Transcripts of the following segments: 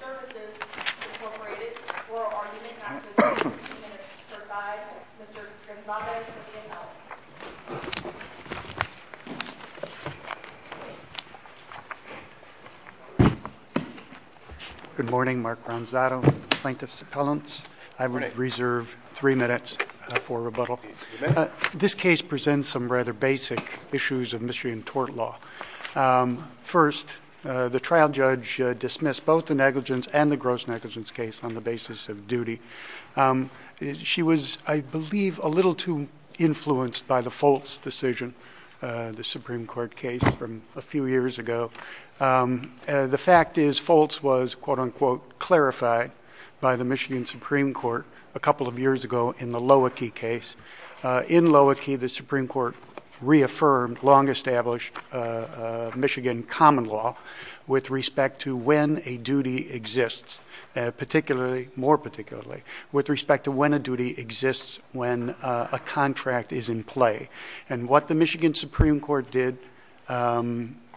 Services, Incorporated, for argument not concluded in the minutes, sir, by Mr. Gonzaga from VFL. Good morning. Mark Gonzaga, Plaintiff's Appellants. I would reserve three minutes for rebuttal. This case presents some rather basic issues of Michigan tort law. First, the trial judge dismissed both the negligence and the gross negligence case on the basis of duty. She was, I believe, a little too influenced by the Foltz decision, the Supreme Court case from a few years ago. The fact is, Foltz was, quote-unquote, clarified by the Michigan Supreme Court a couple of In Loewenke, the Supreme Court reaffirmed long-established Michigan common law with respect to when a duty exists, particularly, more particularly, with respect to when a duty exists when a contract is in play. And what the Michigan Supreme Court did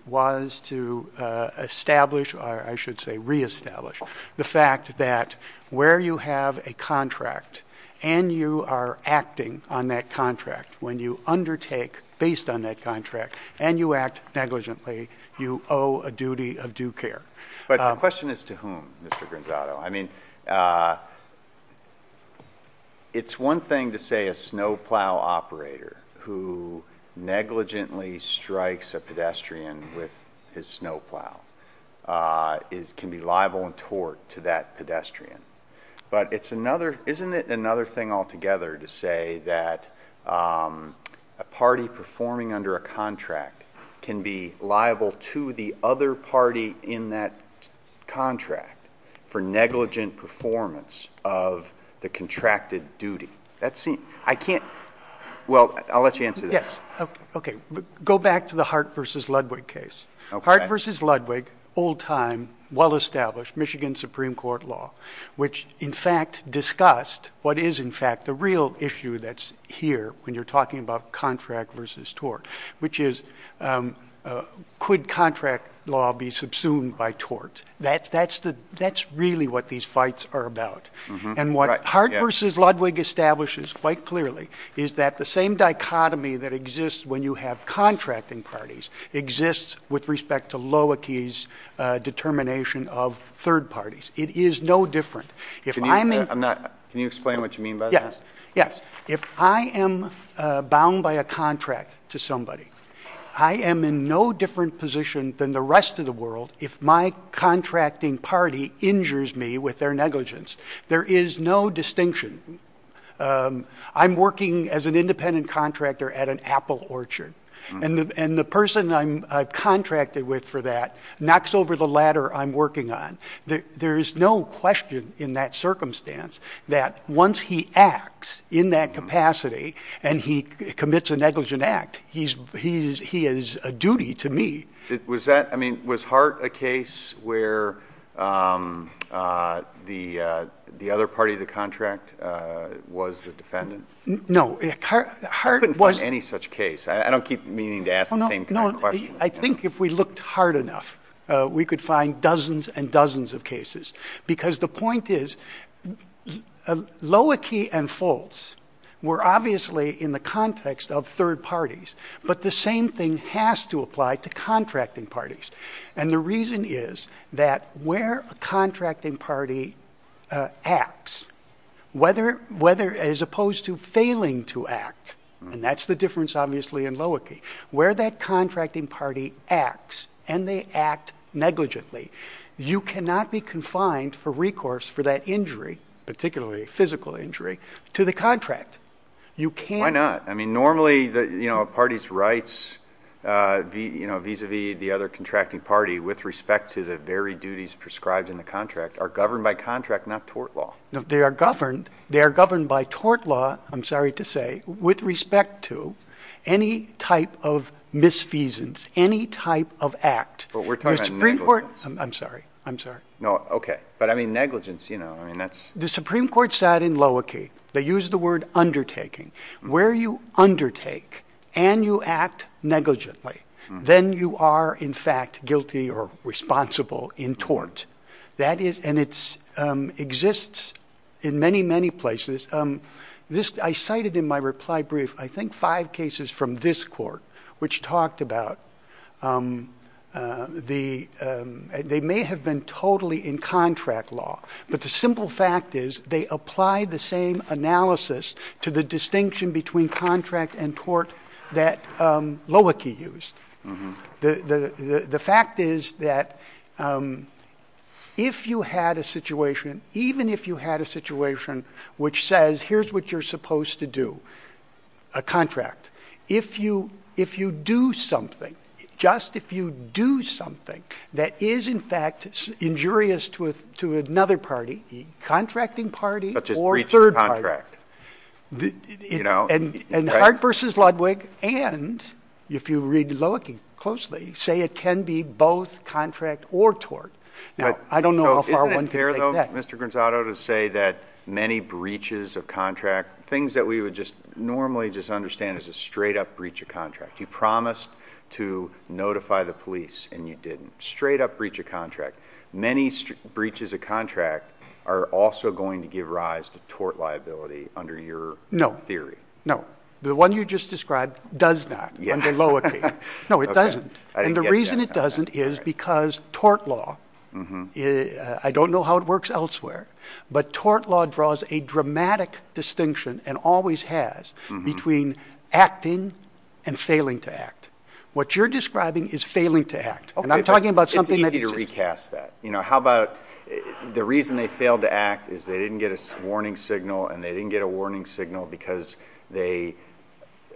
was to establish, or I should say reestablish, the fact that where you have a contract and you are acting on that contract, when you undertake based on that contract, and you act negligently, you owe a duty of due care. But the question is to whom, Mr. Gonzaga? I mean, it's one thing to say a snowplow operator who negligently strikes a pedestrian with his snowplow can be liable and tort to that pedestrian. But isn't it another thing altogether to say that a party performing under a contract can be liable to the other party in that contract for negligent performance of the contracted duty? I can't, well, I'll let you answer this. Yes. Okay. Go back to the Hart v. Ludwig case. Hart v. Ludwig, old time, well-established Michigan Supreme Court law, which in fact discussed what is, in fact, the real issue that's here when you're talking about contract versus tort, which is could contract law be subsumed by tort? That's really what these fights are about. And what Hart v. Ludwig establishes quite clearly is that the same dichotomy that exists when you have contracting parties exists with respect to Loewenke's determination of third parties. It is no different. Can you explain what you mean by this? Yes. If I am bound by a contract to somebody, I am in no different position than the rest of the world if my contracting party injures me with their negligence. There is no distinction. I'm working as an independent contractor at an apple orchard. And the person I'm contracted with for that knocks over the ladder I'm working on. There's no question in that circumstance that once he acts in that capacity and he commits a negligent act, he is a duty to me. Was Hart a case where the other party of the contract was the defendant? No. Hart was... I couldn't find any such case. I don't keep meaning to ask the same kind of question. I think if we looked hard enough, we could find dozens and dozens of cases. Because the point is, Loewenke and Foltz were obviously in the context of third parties. But the same thing has to apply to contracting parties. And the reason is that where a contracting party acts, whether as opposed to failing to act, and that's the difference obviously in Loewenke, where that contracting party acts and they act negligently, you cannot be confined for recourse for that injury, particularly physical injury, to the contract. You can't... Why not? Why not? I mean, normally, a party's rights vis-a-vis the other contracting party with respect to the very duties prescribed in the contract are governed by contract, not tort law. They are governed by tort law, I'm sorry to say, with respect to any type of misfeasance, any type of act. But we're talking about negligence. The Supreme Court... I'm sorry. I'm sorry. No. Okay. But I mean, negligence, you know, I mean, that's... The Supreme Court sat in Loewenke. They used the word undertaking. Where you undertake and you act negligently, then you are, in fact, guilty or responsible in tort. That is... And it exists in many, many places. I cited in my reply brief, I think, five cases from this court which talked about the... They may have been totally in contract law, but the simple fact is they applied the same analysis to the distinction between contract and tort that Loewenke used. The fact is that if you had a situation, even if you had a situation which says, here's what you're supposed to do, a contract, if you do something, just if you do something that is, in fact, injurious to another party, a contracting party or a third party, and Hart v. Ludwig, and if you read Loewenke closely, say it can be both contract or tort. I don't know how far one can take that. But isn't it fair, though, Mr. Granzato, to say that many breaches of contract, things that we would just normally just understand as a straight-up breach of contract, you promised to notify the police and you didn't. Straight-up breach of contract. Many breaches of contract are also going to give rise to tort liability under your theory. No. No. The one you just described does not under Loewenke. No, it doesn't. And the reason it doesn't is because tort law, I don't know how it works elsewhere, but tort law draws a dramatic distinction and always has between acting and failing to act. What you're describing is failing to act. And I'm talking about something that... It's easy to recast that. You know, how about the reason they failed to act is they didn't get a warning signal and they didn't get a warning signal because they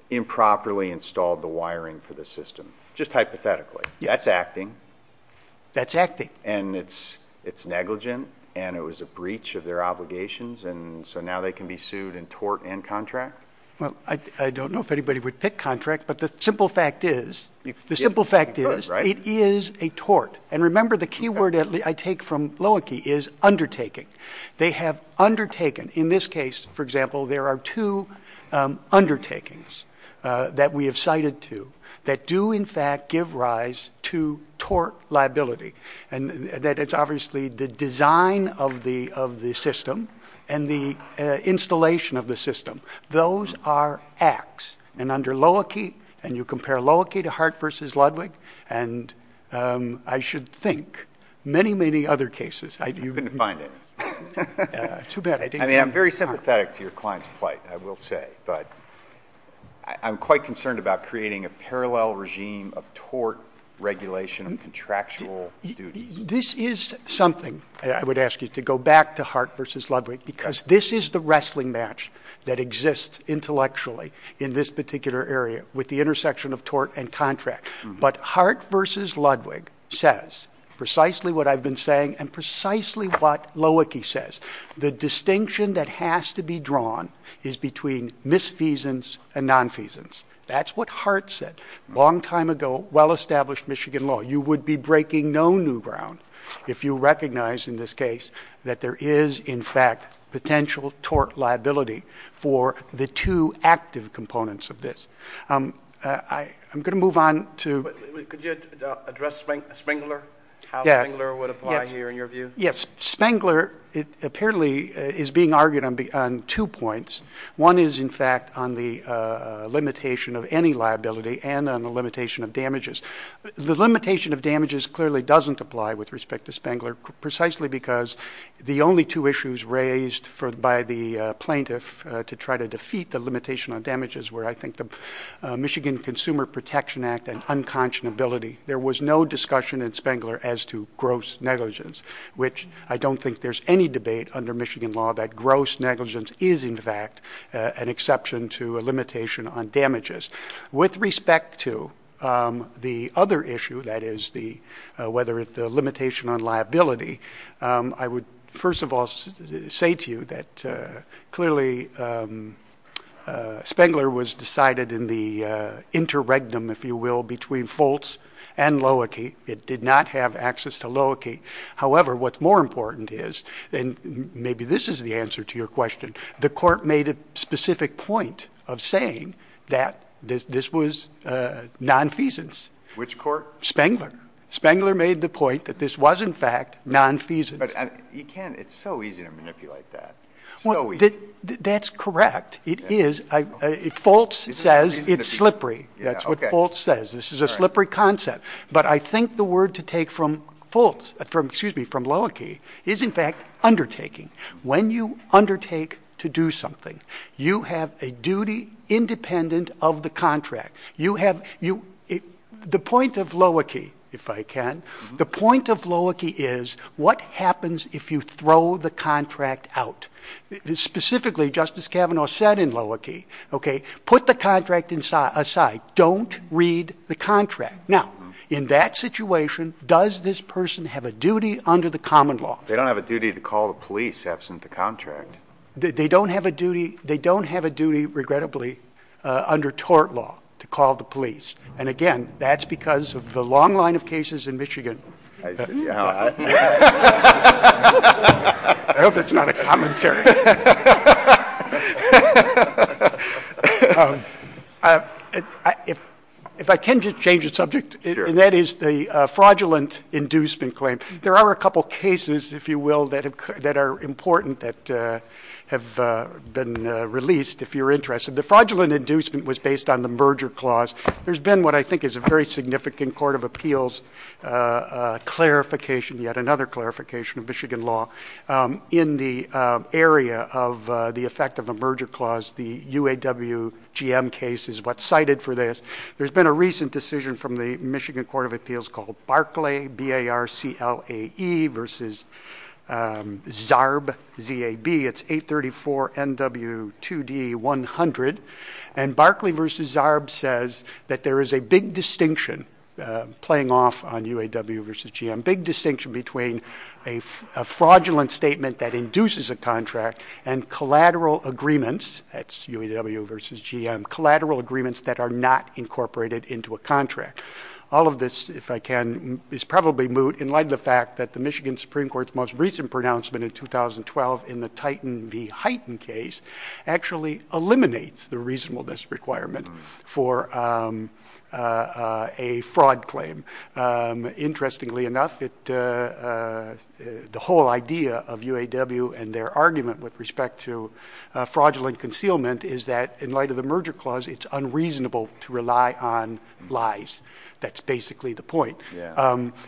improperly installed the wiring for the system. Just hypothetically. Yeah. That's acting. That's acting. And it's negligent and it was a breach of their obligations and so now they can be sued in tort and contract? Well, I don't know if anybody would pick contract, but the simple fact is, the simple fact is, it is a tort. And remember the key word I take from Loewenke is undertaking. They have undertaken. In this case, for example, there are two undertakings that we have cited to that do in fact give rise to tort liability. And that it's obviously the design of the system and the installation of the system. Those are acts. And under Loewenke, and you compare Loewenke to Hart v. Ludwig, and I should think many, many other cases. I couldn't find it. Too bad. I didn't... I mean, I'm very sympathetic to your client's plight, I will say, but I'm quite concerned about creating a parallel regime of tort regulation and contractual duties. This is something I would ask you to go back to Hart v. Ludwig because this is the wrestling match that exists intellectually in this particular area with the intersection of tort and contract. But Hart v. Ludwig says precisely what I've been saying and precisely what Loewenke says. The distinction that has to be drawn is between misfeasance and nonfeasance. That's what Hart said a long time ago, well-established Michigan law. You would be breaking no new ground if you recognize in this case that there is in fact potential tort liability for the two active components of this. I'm going to move on to... Could you address Spengler, how Spengler would apply here in your view? Yes. Spengler apparently is being argued on two points. One is in fact on the limitation of any liability and on the limitation of damages. The limitation of damages clearly doesn't apply with respect to Spengler precisely because the only two issues raised by the plaintiff to try to defeat the limitation of damages were I think the Michigan Consumer Protection Act and unconscionability. There was no discussion in Spengler as to gross negligence, which I don't think there's any debate under Michigan law that gross negligence is in fact an exception to a limitation on damages. With respect to the other issue, that is whether the limitation on liability, I would first of all say to you that clearly Spengler was decided in the interregnum, if you will, between Foltz and Loewenke. It did not have access to Loewenke. However, what's more important is, and maybe this is the answer to your question, the court made a specific point of saying that this was nonfeasance. Spengler. Spengler made the point that this was in fact nonfeasance. It's so easy to manipulate that. That's correct. It is. Foltz says it's slippery. That's what Foltz says. This is a slippery concept. I think the word to take from Loewenke is in fact undertaking. When you undertake to do something, you have a duty independent of the contract. The point of Loewenke, if I can, the point of Loewenke is what happens if you throw the contract out? Specifically, Justice Kavanaugh said in Loewenke, put the contract aside. Don't read the contract. Now, in that situation, does this person have a duty under the common law? They don't have a duty to call the police absent the contract. They don't have a duty, they don't have a duty, regrettably, under tort law to call the police. And again, that's because of the long line of cases in Michigan. I hope that's not a commentary. If I can just change the subject, and that is the fraudulent inducement claim. There are a couple of cases, if you will, that are important that have been released if you're interested. The fraudulent inducement was based on the merger clause. There's been what I think is a very significant court of appeals clarification, yet another area of the effect of a merger clause, the UAW-GM case is what's cited for this. There's been a recent decision from the Michigan Court of Appeals called Barclay, B-A-R-C-L-A-E versus Zarb, Z-A-B, it's 834-N-W-2-D-100. And Barclay versus Zarb says that there is a big distinction playing off on UAW versus GM. Big distinction between a fraudulent statement that induces a contract and collateral agreements, that's UAW versus GM, collateral agreements that are not incorporated into a contract. All of this, if I can, is probably moot in light of the fact that the Michigan Supreme Court's most recent pronouncement in 2012 in the Titan v. Hyten case actually eliminates the reasonableness requirement for a fraud claim. Interestingly enough, the whole idea of UAW and their argument with respect to fraudulent concealment is that in light of the merger clause, it's unreasonable to rely on lies. That's basically the point.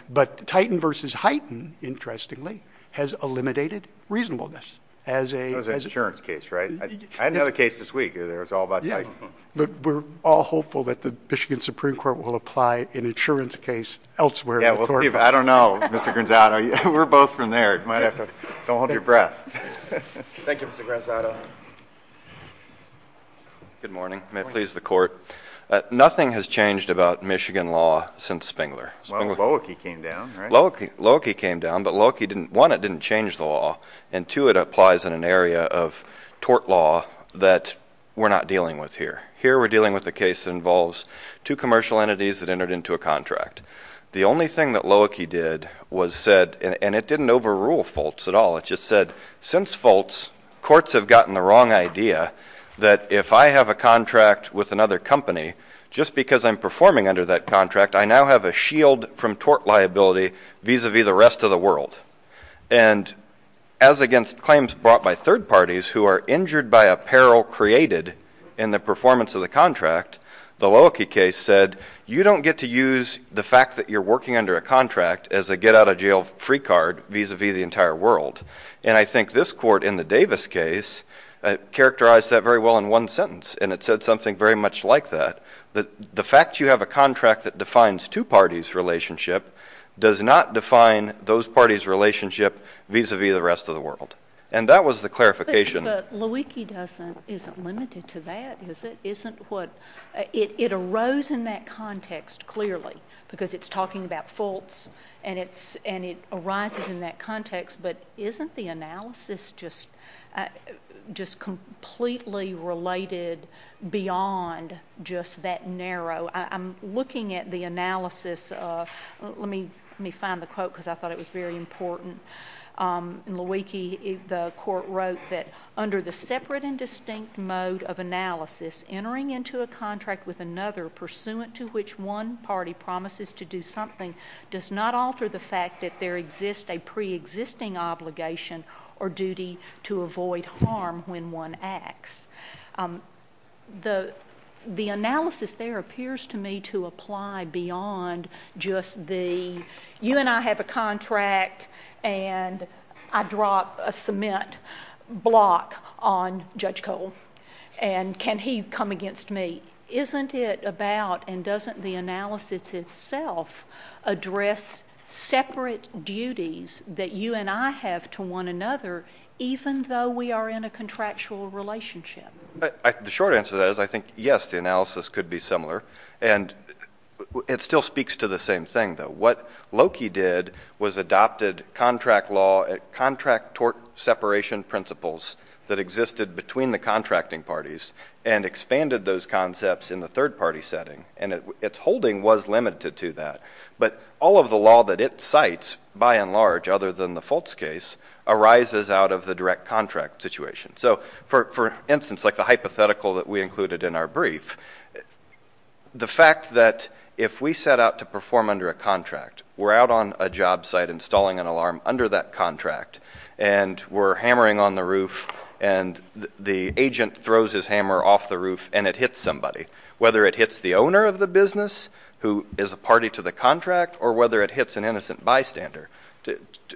But Titan versus Hyten, interestingly, has eliminated reasonableness as a- That was an insurance case, right? I had another case this week, it was all about Titan. But we're all hopeful that the Michigan Supreme Court will apply an insurance case elsewhere. Yeah, we'll see if- I don't know, Mr. Granzato. We're both from there. You might have to- don't hold your breath. Thank you, Mr. Granzato. Good morning. Good morning. May it please the Court. Nothing has changed about Michigan law since Spengler. Well, Loewke came down, right? Loewke came down, but Loewke didn't- one, it didn't change the law, and two, it applies in an area of tort law that we're not dealing with here. Here we're dealing with a case that involves two commercial entities that entered into a contract. The only thing that Loewke did was said- and it didn't overrule Foltz at all. It just said, since Foltz, courts have gotten the wrong idea that if I have a contract with another company, just because I'm performing under that contract, I now have a shield from tort liability vis-a-vis the rest of the world. And as against claims brought by third parties who are injured by a peril created in the performance of the contract, the Loewke case said, you don't get to use the fact that you're working under a contract as a get-out-of-jail-free card vis-a-vis the entire world. And I think this court in the Davis case characterized that very well in one sentence, and it said something very much like that, that the fact you have a contract that defines two parties' relationship does not define those parties' relationship vis-a-vis the rest of the world. And that was the clarification- But Loewke isn't limited to that, is it? It arose in that context, clearly, because it's talking about Foltz, and it arises in that context, but isn't the analysis just completely related beyond just that narrow? I'm looking at the analysis of—let me find the quote, because I thought it was very important. In Loewke, the court wrote that, under the separate and distinct mode of analysis, entering into a contract with another pursuant to which one party promises to do something does not alter the fact that there exists a preexisting obligation or duty to avoid harm when one acts. The analysis there appears to me to apply beyond just the, you and I have a contract, and I drop a cement block on Judge Cole, and can he come against me? Isn't it about—and doesn't the analysis itself address separate duties that you and I have to one another, even though we are in a contractual relationship? The short answer to that is I think, yes, the analysis could be similar, and it still speaks to the same thing, though. What Loewke did was adopted contract law, contract tort separation principles that existed between the contracting parties, and expanded those concepts in the third-party setting, and its holding was limited to that. But all of the law that it cites, by and large, other than the Foltz case, arises out of the direct contract situation. So for instance, like the hypothetical that we included in our brief, the fact that if we set out to perform under a contract, we're out on a job site installing an alarm under that contract, and we're hammering on the roof, and the agent throws his hammer off the roof, and it hits somebody, whether it hits the owner of the business, who is a party to the contract, or whether it hits an innocent bystander.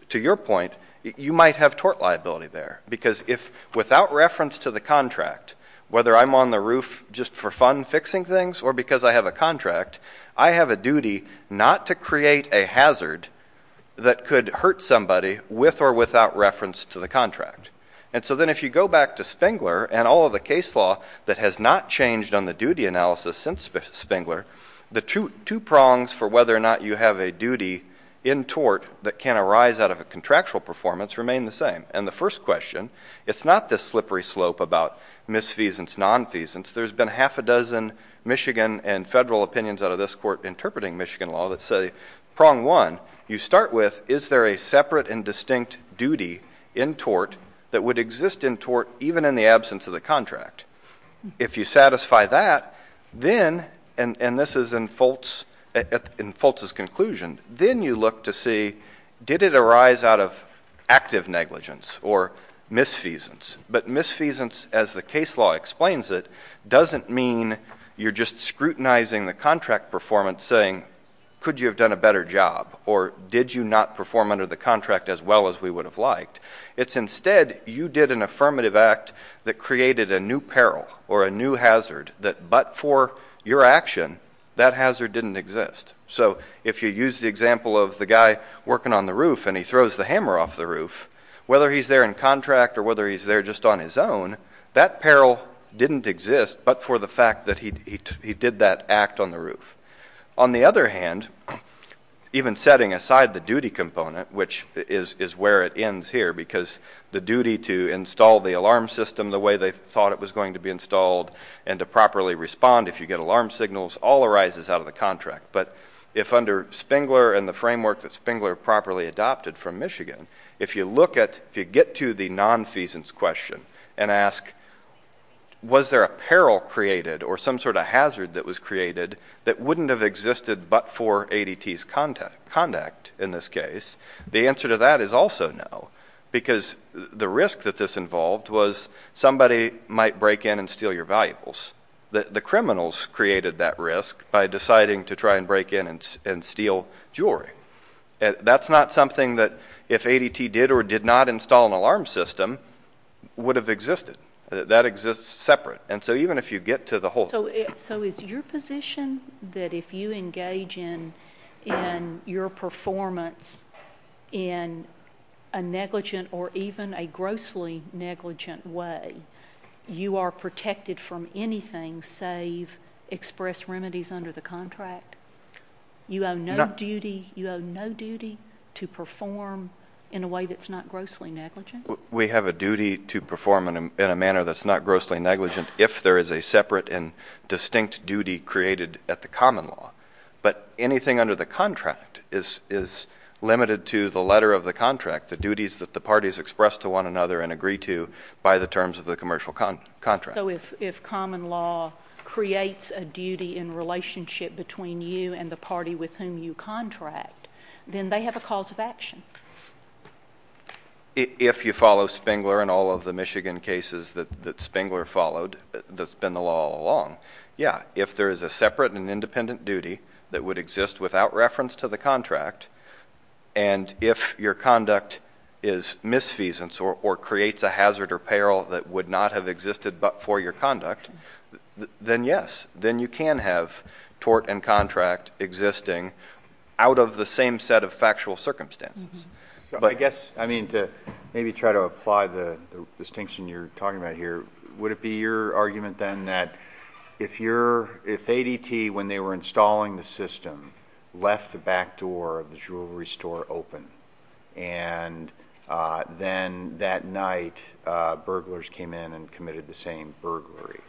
To your point, you might have tort liability there, because without reference to the contract, whether I'm on the roof just for fun fixing things, or because I have a contract, I have a duty not to create a hazard that could hurt somebody with or without reference to the contract. And so then if you go back to Spengler, and all of the case law that has not changed on the duty analysis since Spengler, the two prongs for whether or not you have a duty in tort that can arise out of a contractual performance remain the same. And the first question, it's not this slippery slope about misfeasance, nonfeasance. There's been half a dozen Michigan and federal opinions out of this court interpreting Michigan law that say, prong one, you start with, is there a separate and distinct duty in tort that would exist in tort even in the absence of the contract? If you satisfy that, then, and this is in Foltz's conclusion, then you look to see, did it arise out of active negligence or misfeasance? But misfeasance, as the case law explains it, doesn't mean you're just scrutinizing the contract performance saying, could you have done a better job? Or did you not perform under the contract as well as we would have liked? It's instead, you did an affirmative act that created a new peril or a new hazard that but for your action, that hazard didn't exist. So if you use the example of the guy working on the roof and he throws the hammer off the roof, whether he's there in contract or whether he's there just on his own, that peril didn't exist but for the fact that he did that act on the roof. On the other hand, even setting aside the duty component, which is where it ends here, because the duty to install the alarm system the way they thought it was going to be installed and to properly respond if you get alarm signals, all arises out of the contract, but if under Spengler and the framework that Spengler properly adopted from Michigan, if you look at, if you get to the non-feasance question and ask, was there a peril created or some sort of hazard that was created that wouldn't have existed but for the answer to that is also no, because the risk that this involved was somebody might break in and steal your valuables. The criminals created that risk by deciding to try and break in and steal jewelry. That's not something that if ADT did or did not install an alarm system, would have existed. That exists separate. And so even if you get to the whole. So is your position that if you engage in your performance in a negligent or even a grossly negligent way, you are protected from anything save express remedies under the contract? You have no duty to perform in a way that's not grossly negligent? We have a duty to perform in a manner that's not grossly negligent if there is a separate and distinct duty created at the common law. But anything under the contract is limited to the letter of the contract, the duties that the parties express to one another and agree to by the terms of the commercial contract. So if common law creates a duty in relationship between you and the party with whom you contract, then they have a cause of action. If you follow Spengler and all of the Michigan cases that Spengler followed, that's been the law all along, yeah, if there is a separate and independent duty that would exist without reference to the contract, and if your conduct is misfeasance or creates a hazard or peril that would not have existed but for your conduct, then yes. Then you can have tort and contract existing out of the same set of factual circumstances. But- I guess, I mean, to maybe try to apply the distinction you're talking about here, would it be your argument then that if ADT, when they were installing the system, left the back door of the jewelry store open, and then that night burglars came in and committed the same burglary,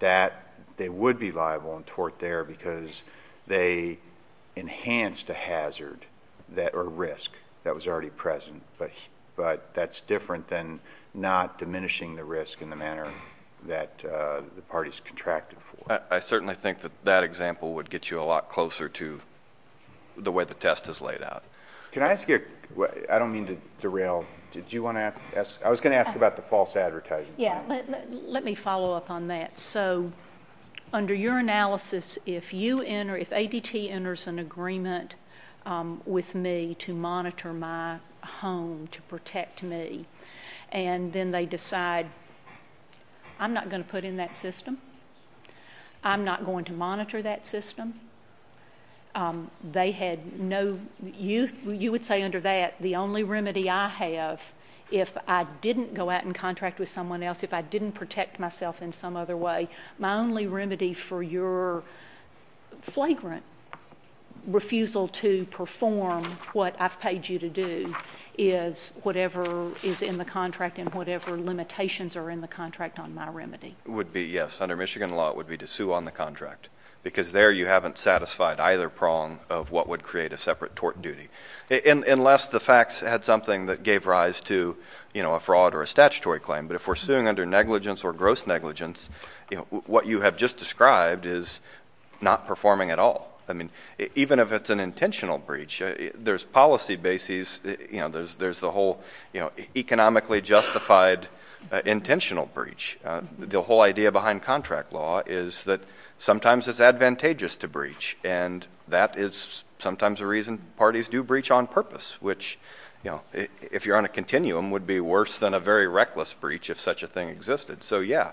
that they would be liable in tort there because they enhanced a hazard or risk that was already present. But that's different than not diminishing the risk in the manner that the parties contracted for. I certainly think that that example would get you a lot closer to the way the test is laid out. Can I ask you, I don't mean to derail, did you want to ask? I was going to ask about the false advertising. Yeah, let me follow up on that. So under your analysis, if you enter, if ADT enters an agreement with me to monitor my home, to protect me, and then they decide, I'm not going to put in that system. I'm not going to monitor that system. They had no, you would say under that, the only remedy I have if I didn't go out and contract with someone else, if I didn't protect myself in some other way, my only remedy for your flagrant refusal to perform what I've paid you to do is whatever is in the contract and whatever limitations are in the contract on my remedy. Would be, yes, under Michigan law, it would be to sue on the contract. Because there you haven't satisfied either prong of what would create a separate tort duty, unless the facts had something that gave rise to a fraud or a statutory claim. But if we're suing under negligence or gross negligence, what you have just described is not performing at all. I mean, even if it's an intentional breach, there's policy bases, there's the whole economically justified intentional breach. The whole idea behind contract law is that sometimes it's advantageous to breach. And that is sometimes the reason parties do breach on purpose, which if you're on a continuum, would be worse than a very reckless breach if such a thing existed. So yeah,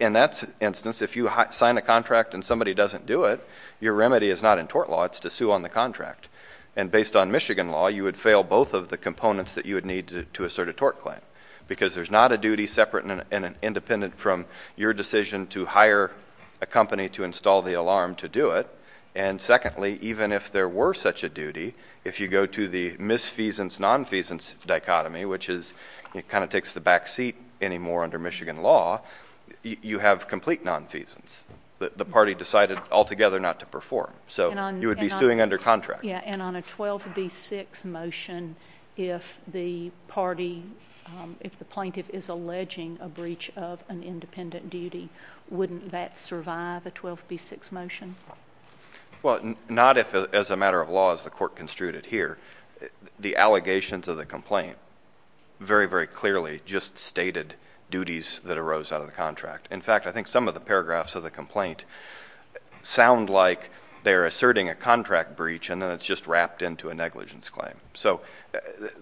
in that instance, if you sign a contract and somebody doesn't do it, your remedy is not in tort law, it's to sue on the contract. And based on Michigan law, you would fail both of the components that you would need to assert a tort claim. Because there's not a duty separate and independent from your decision to hire a company to install the alarm to do it. And secondly, even if there were such a duty, if you go to the misfeasance, non-feasance dichotomy, which is, it kind of takes the back seat anymore under Michigan law, you have complete non-feasance. But the party decided altogether not to perform. So you would be suing under contract. Yeah, and on a 12B6 motion, if the party, if the plaintiff is alleging a breach of an independent duty, wouldn't that survive a 12B6 motion? Well, not if as a matter of law as the court construed it here. The allegations of the complaint very, very clearly just stated duties that arose out of the contract. In fact, I think some of the paragraphs of the complaint sound like they're asserting a contract breach and then it's just wrapped into a negligence claim. So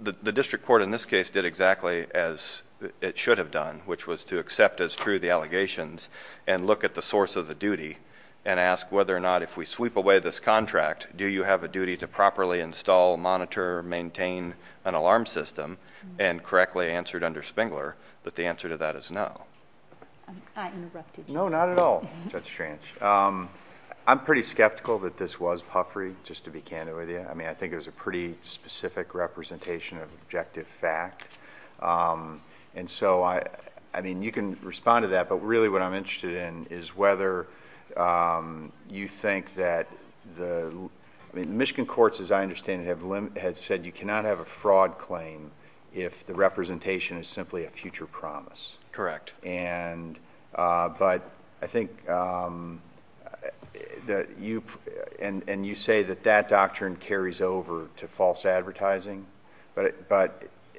the district court in this case did exactly as it should have done, which was to accept as true the allegations and look at the source of the duty. And ask whether or not if we sweep away this contract, do you have a duty to properly install, monitor, maintain an alarm system and correctly answered under Spengler, that the answer to that is no. I interrupted you. No, not at all. Judge Schranch, I'm pretty skeptical that this was puffery, just to be candid with you. I mean, I think it was a pretty specific representation of objective fact. And so, I mean, you can respond to that, but really what I'm interested in is whether you think that the, I mean, Michigan courts, as I understand it, have said you cannot have a fraud claim if the representation is simply a future promise. Correct. And, but I think that you, and you say that that doctrine carries over to false advertising. But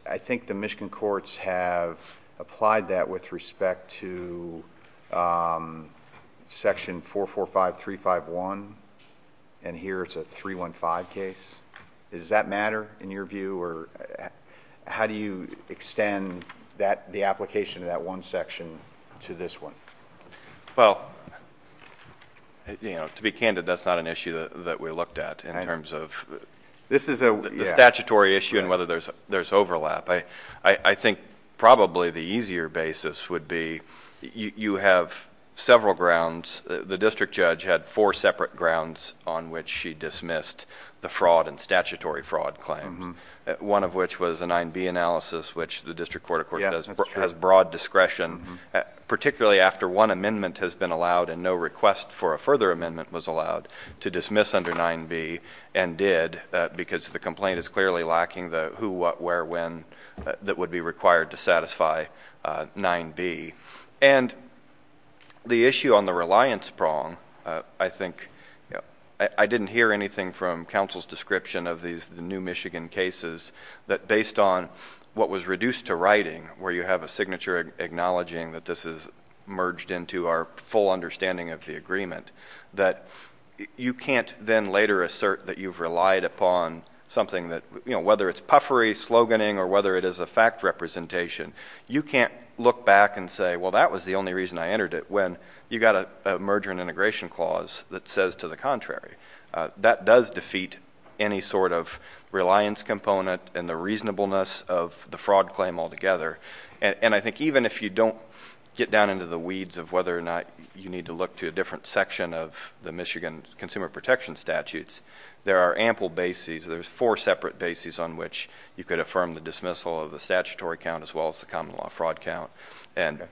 I think the Michigan courts have applied that with respect to section 445351, and here it's a 315 case. Does that matter in your view, or how do you extend that, the application of that one section to this one? Well, to be candid, that's not an issue that we looked at in terms of. This is a statutory issue, and whether there's overlap. I think probably the easier basis would be you have several grounds, the district judge had four separate grounds on which she dismissed the fraud and statutory fraud claims. One of which was a 9B analysis, which the district court, of course, has broad discretion, particularly after one amendment has been allowed and no request for a further amendment was allowed to dismiss under 9B. And did, because the complaint is clearly lacking the who, what, where, when that would be required to satisfy 9B. And the issue on the reliance prong, I think, I didn't hear anything from counsel's description of these new Michigan cases. That based on what was reduced to writing, where you have a signature acknowledging that this is merged into our full understanding of the agreement. That you can't then later assert that you've relied upon something that, whether it's puffery, sloganing, or whether it is a fact representation. You can't look back and say, well, that was the only reason I entered it, when you got a merger and integration clause that says to the contrary. That does defeat any sort of reliance component and the reasonableness of the fraud claim altogether. And I think even if you don't get down into the weeds of whether or not you need to look to a different section of the Michigan consumer protection statutes, there are ample bases. There's four separate bases on which you could affirm the dismissal of the statutory count as well as the common law fraud count. And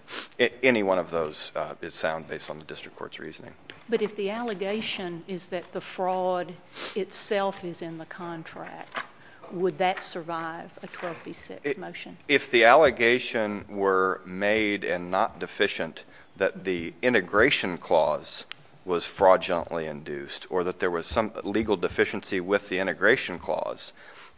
any one of those is sound based on the district court's reasoning. But if the allegation is that the fraud itself is in the contract, would that survive a 12 v 6 motion? If the allegation were made and not deficient, that the integration clause was fraudulently induced, or that there was some legal deficiency with the integration clause.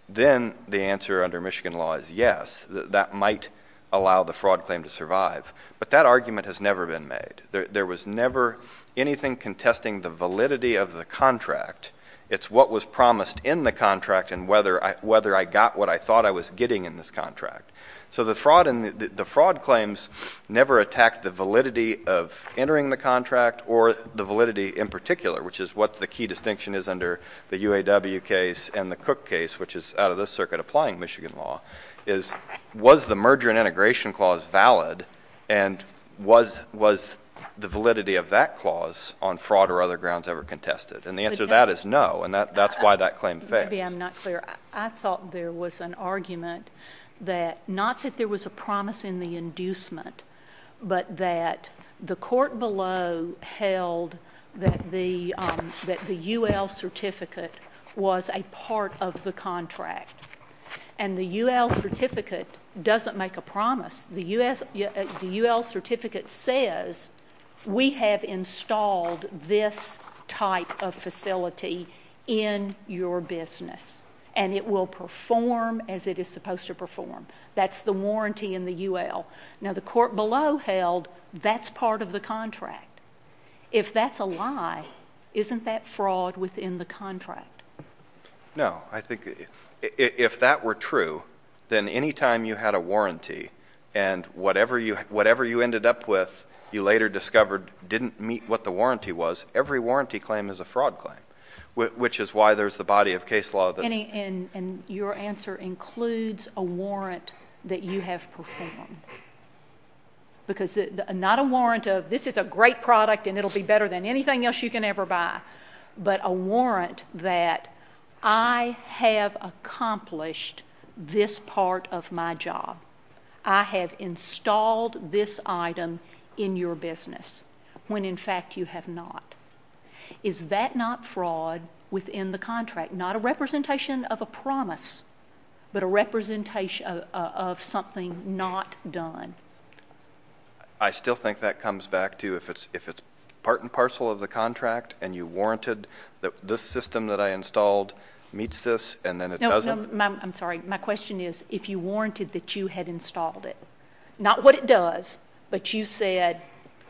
Then the answer under Michigan law is yes, that might allow the fraud claim to survive. But that argument has never been made. There was never anything contesting the validity of the contract. It's what was promised in the contract and whether I got what I thought I was getting in this contract. So the fraud claims never attacked the validity of entering the contract or the validity in particular, which is what the key distinction is under the UAW case and the Cook case, which is out of this circuit applying Michigan law, is was the merger and integration clause valid? And was the validity of that clause on fraud or other grounds ever contested? And the answer to that is no, and that's why that claim failed. Maybe I'm not clear. I thought there was an argument that not that there was a promise in the inducement, but that the court below held that the UL certificate was a part of the contract, and the UL certificate doesn't make a promise. The UL certificate says, we have installed this type of facility in your business. And it will perform as it is supposed to perform. That's the warranty in the UL. Now the court below held, that's part of the contract. If that's a lie, isn't that fraud within the contract? No, I think if that were true, then any time you had a warranty, and whatever you ended up with, you later discovered didn't meet what the warranty was, every warranty claim is a fraud claim, which is why there's the body of case law. And your answer includes a warrant that you have performed. Because not a warrant of, this is a great product, and it'll be better than anything else you can ever buy. But a warrant that I have accomplished this part of my job. I have installed this item in your business, when in fact you have not. Is that not fraud within the contract? Not a representation of a promise, but a representation of something not done. I still think that comes back to if it's part and parcel of the contract, and you warranted that this system that I installed meets this, and then it doesn't. I'm sorry, my question is, if you warranted that you had installed it. Not what it does, but you said,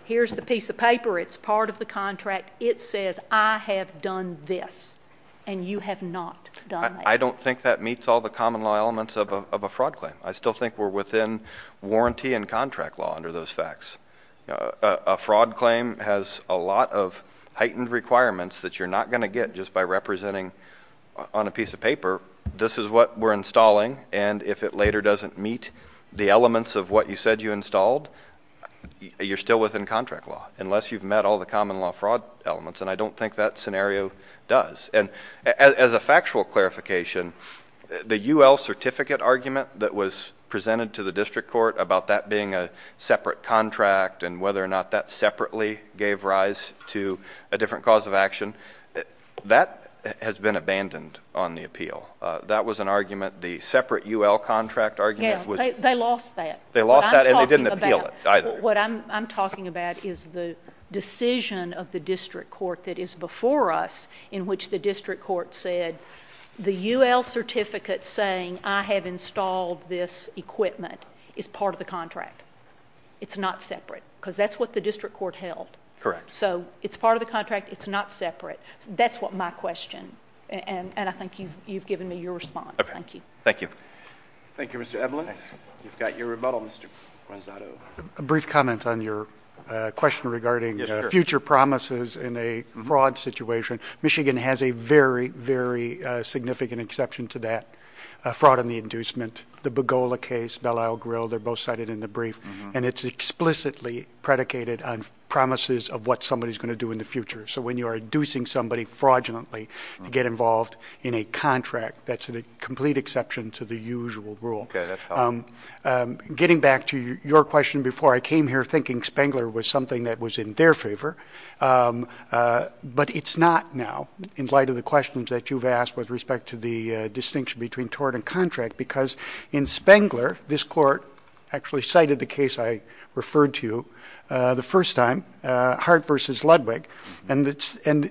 here's the piece of paper, it's part of the contract, it says I have done this, and you have not done that. I don't think that meets all the common law elements of a fraud claim. I still think we're within warranty and contract law under those facts. A fraud claim has a lot of heightened requirements that you're not gonna get just by representing on a piece of paper, this is what we're installing. And if it later doesn't meet the elements of what you said you installed, you're still within contract law, unless you've met all the common law fraud elements, and I don't think that scenario does. And as a factual clarification, the UL certificate argument that was presented to the district court about that being a separate contract, and whether or not that separately gave rise to a different cause of action, that has been abandoned on the appeal. That was an argument, the separate UL contract argument was- Yeah, they lost that. They lost that and they didn't appeal it either. What I'm talking about is the decision of the district court that is before us, in which the district court said, the UL certificate saying, I have installed this equipment, is part of the contract. It's not separate, because that's what the district court held. Correct. So it's part of the contract, it's not separate, that's what my question, and I think you've given me your response, thank you. Thank you. Thank you, Mr. Evelyn. You've got your rebuttal, Mr. Gonzalo. A brief comment on your question regarding future promises in a fraud situation. Michigan has a very, very significant exception to that, a fraud in the inducement. The Bogola case, Belisle Grill, they're both cited in the brief, and it's explicitly predicated on promises of what somebody's going to do in the future. So when you are inducing somebody fraudulently to get involved in a contract, that's a complete exception to the usual rule. Okay, that's helpful. Getting back to your question before, I came here thinking Spengler was something that was in their favor. But it's not now, in light of the questions that you've asked with respect to the distinction between tort and contract. Because in Spengler, this court actually cited the case I referred to the first time, Hart v Ludwig. And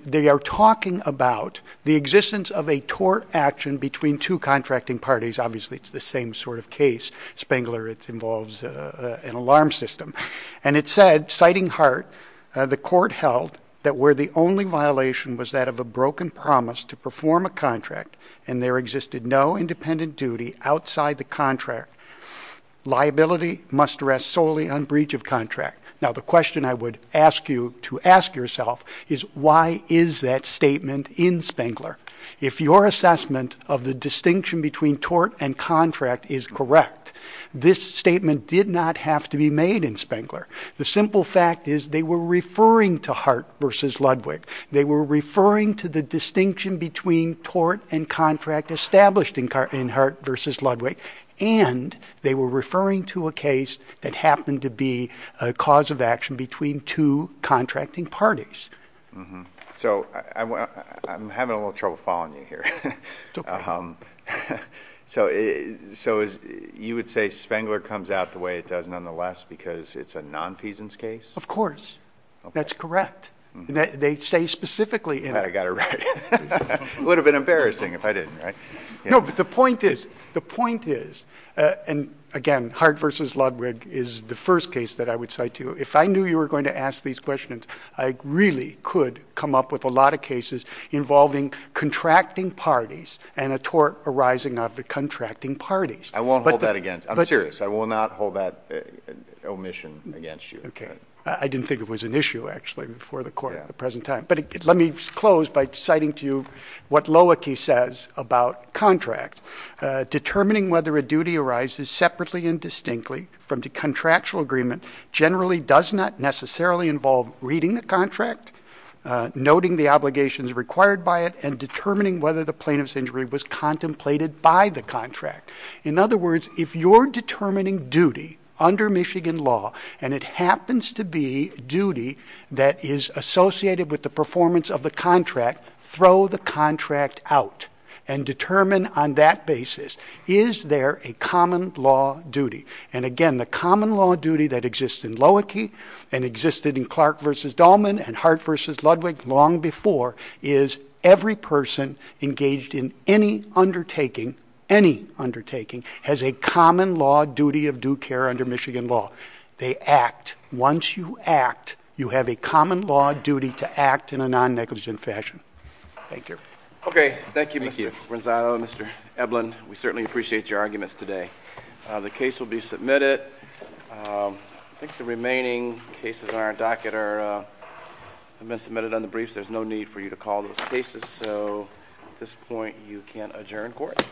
they are talking about the existence of a tort action between two contracting parties. Obviously, it's the same sort of case. Spengler, it involves an alarm system. And it said, citing Hart, the court held that where the only violation was that of a broken promise to perform a contract. And there existed no independent duty outside the contract. Liability must rest solely on breach of contract. Now the question I would ask you to ask yourself is why is that statement in Spengler? If your assessment of the distinction between tort and contract is correct, this statement did not have to be made in Spengler. The simple fact is they were referring to Hart versus Ludwig. They were referring to the distinction between tort and contract established in Hart versus Ludwig. And they were referring to a case that happened to be a cause of action between two contracting parties. Mm-hm, so I'm having a little trouble following you here. It's okay. So you would say Spengler comes out the way it does nonetheless because it's a non-feasance case? Of course. That's correct. They say specifically in it. I got it right. It would have been embarrassing if I didn't, right? No, but the point is, the point is, and again, Hart versus Ludwig is the first case that I would cite to you. If I knew you were going to ask these questions, I really could come up with a lot of cases involving contracting parties and a tort arising out of the contracting parties. I won't hold that against, I'm serious, I will not hold that omission against you. Okay, I didn't think it was an issue, actually, before the court at the present time. But let me close by citing to you what Loecki says about contracts. Determining whether a duty arises separately and distinctly from the contractual agreement generally does not necessarily involve reading the contract, noting the obligations required by it, and determining whether the plaintiff's injury was contemplated by the contract. In other words, if you're determining duty under Michigan law, and it happens to be duty that is associated with the performance of the contract, throw the contract out and determine on that basis, is there a common law duty? And again, the common law duty that exists in Loecki and existed in Clark versus Dolman and Hart versus Ludwig long before is every person engaged in any undertaking, any undertaking, has a common law duty of due care under Michigan law. They act, once you act, you have a common law duty to act in a non-negligent fashion. Thank you. Okay, thank you, Mr. Branzato and Mr. Eblen. We certainly appreciate your arguments today. The case will be submitted. I think the remaining cases on our docket have been submitted on the briefs. There's no need for you to call those cases, so at this point, you can adjourn court.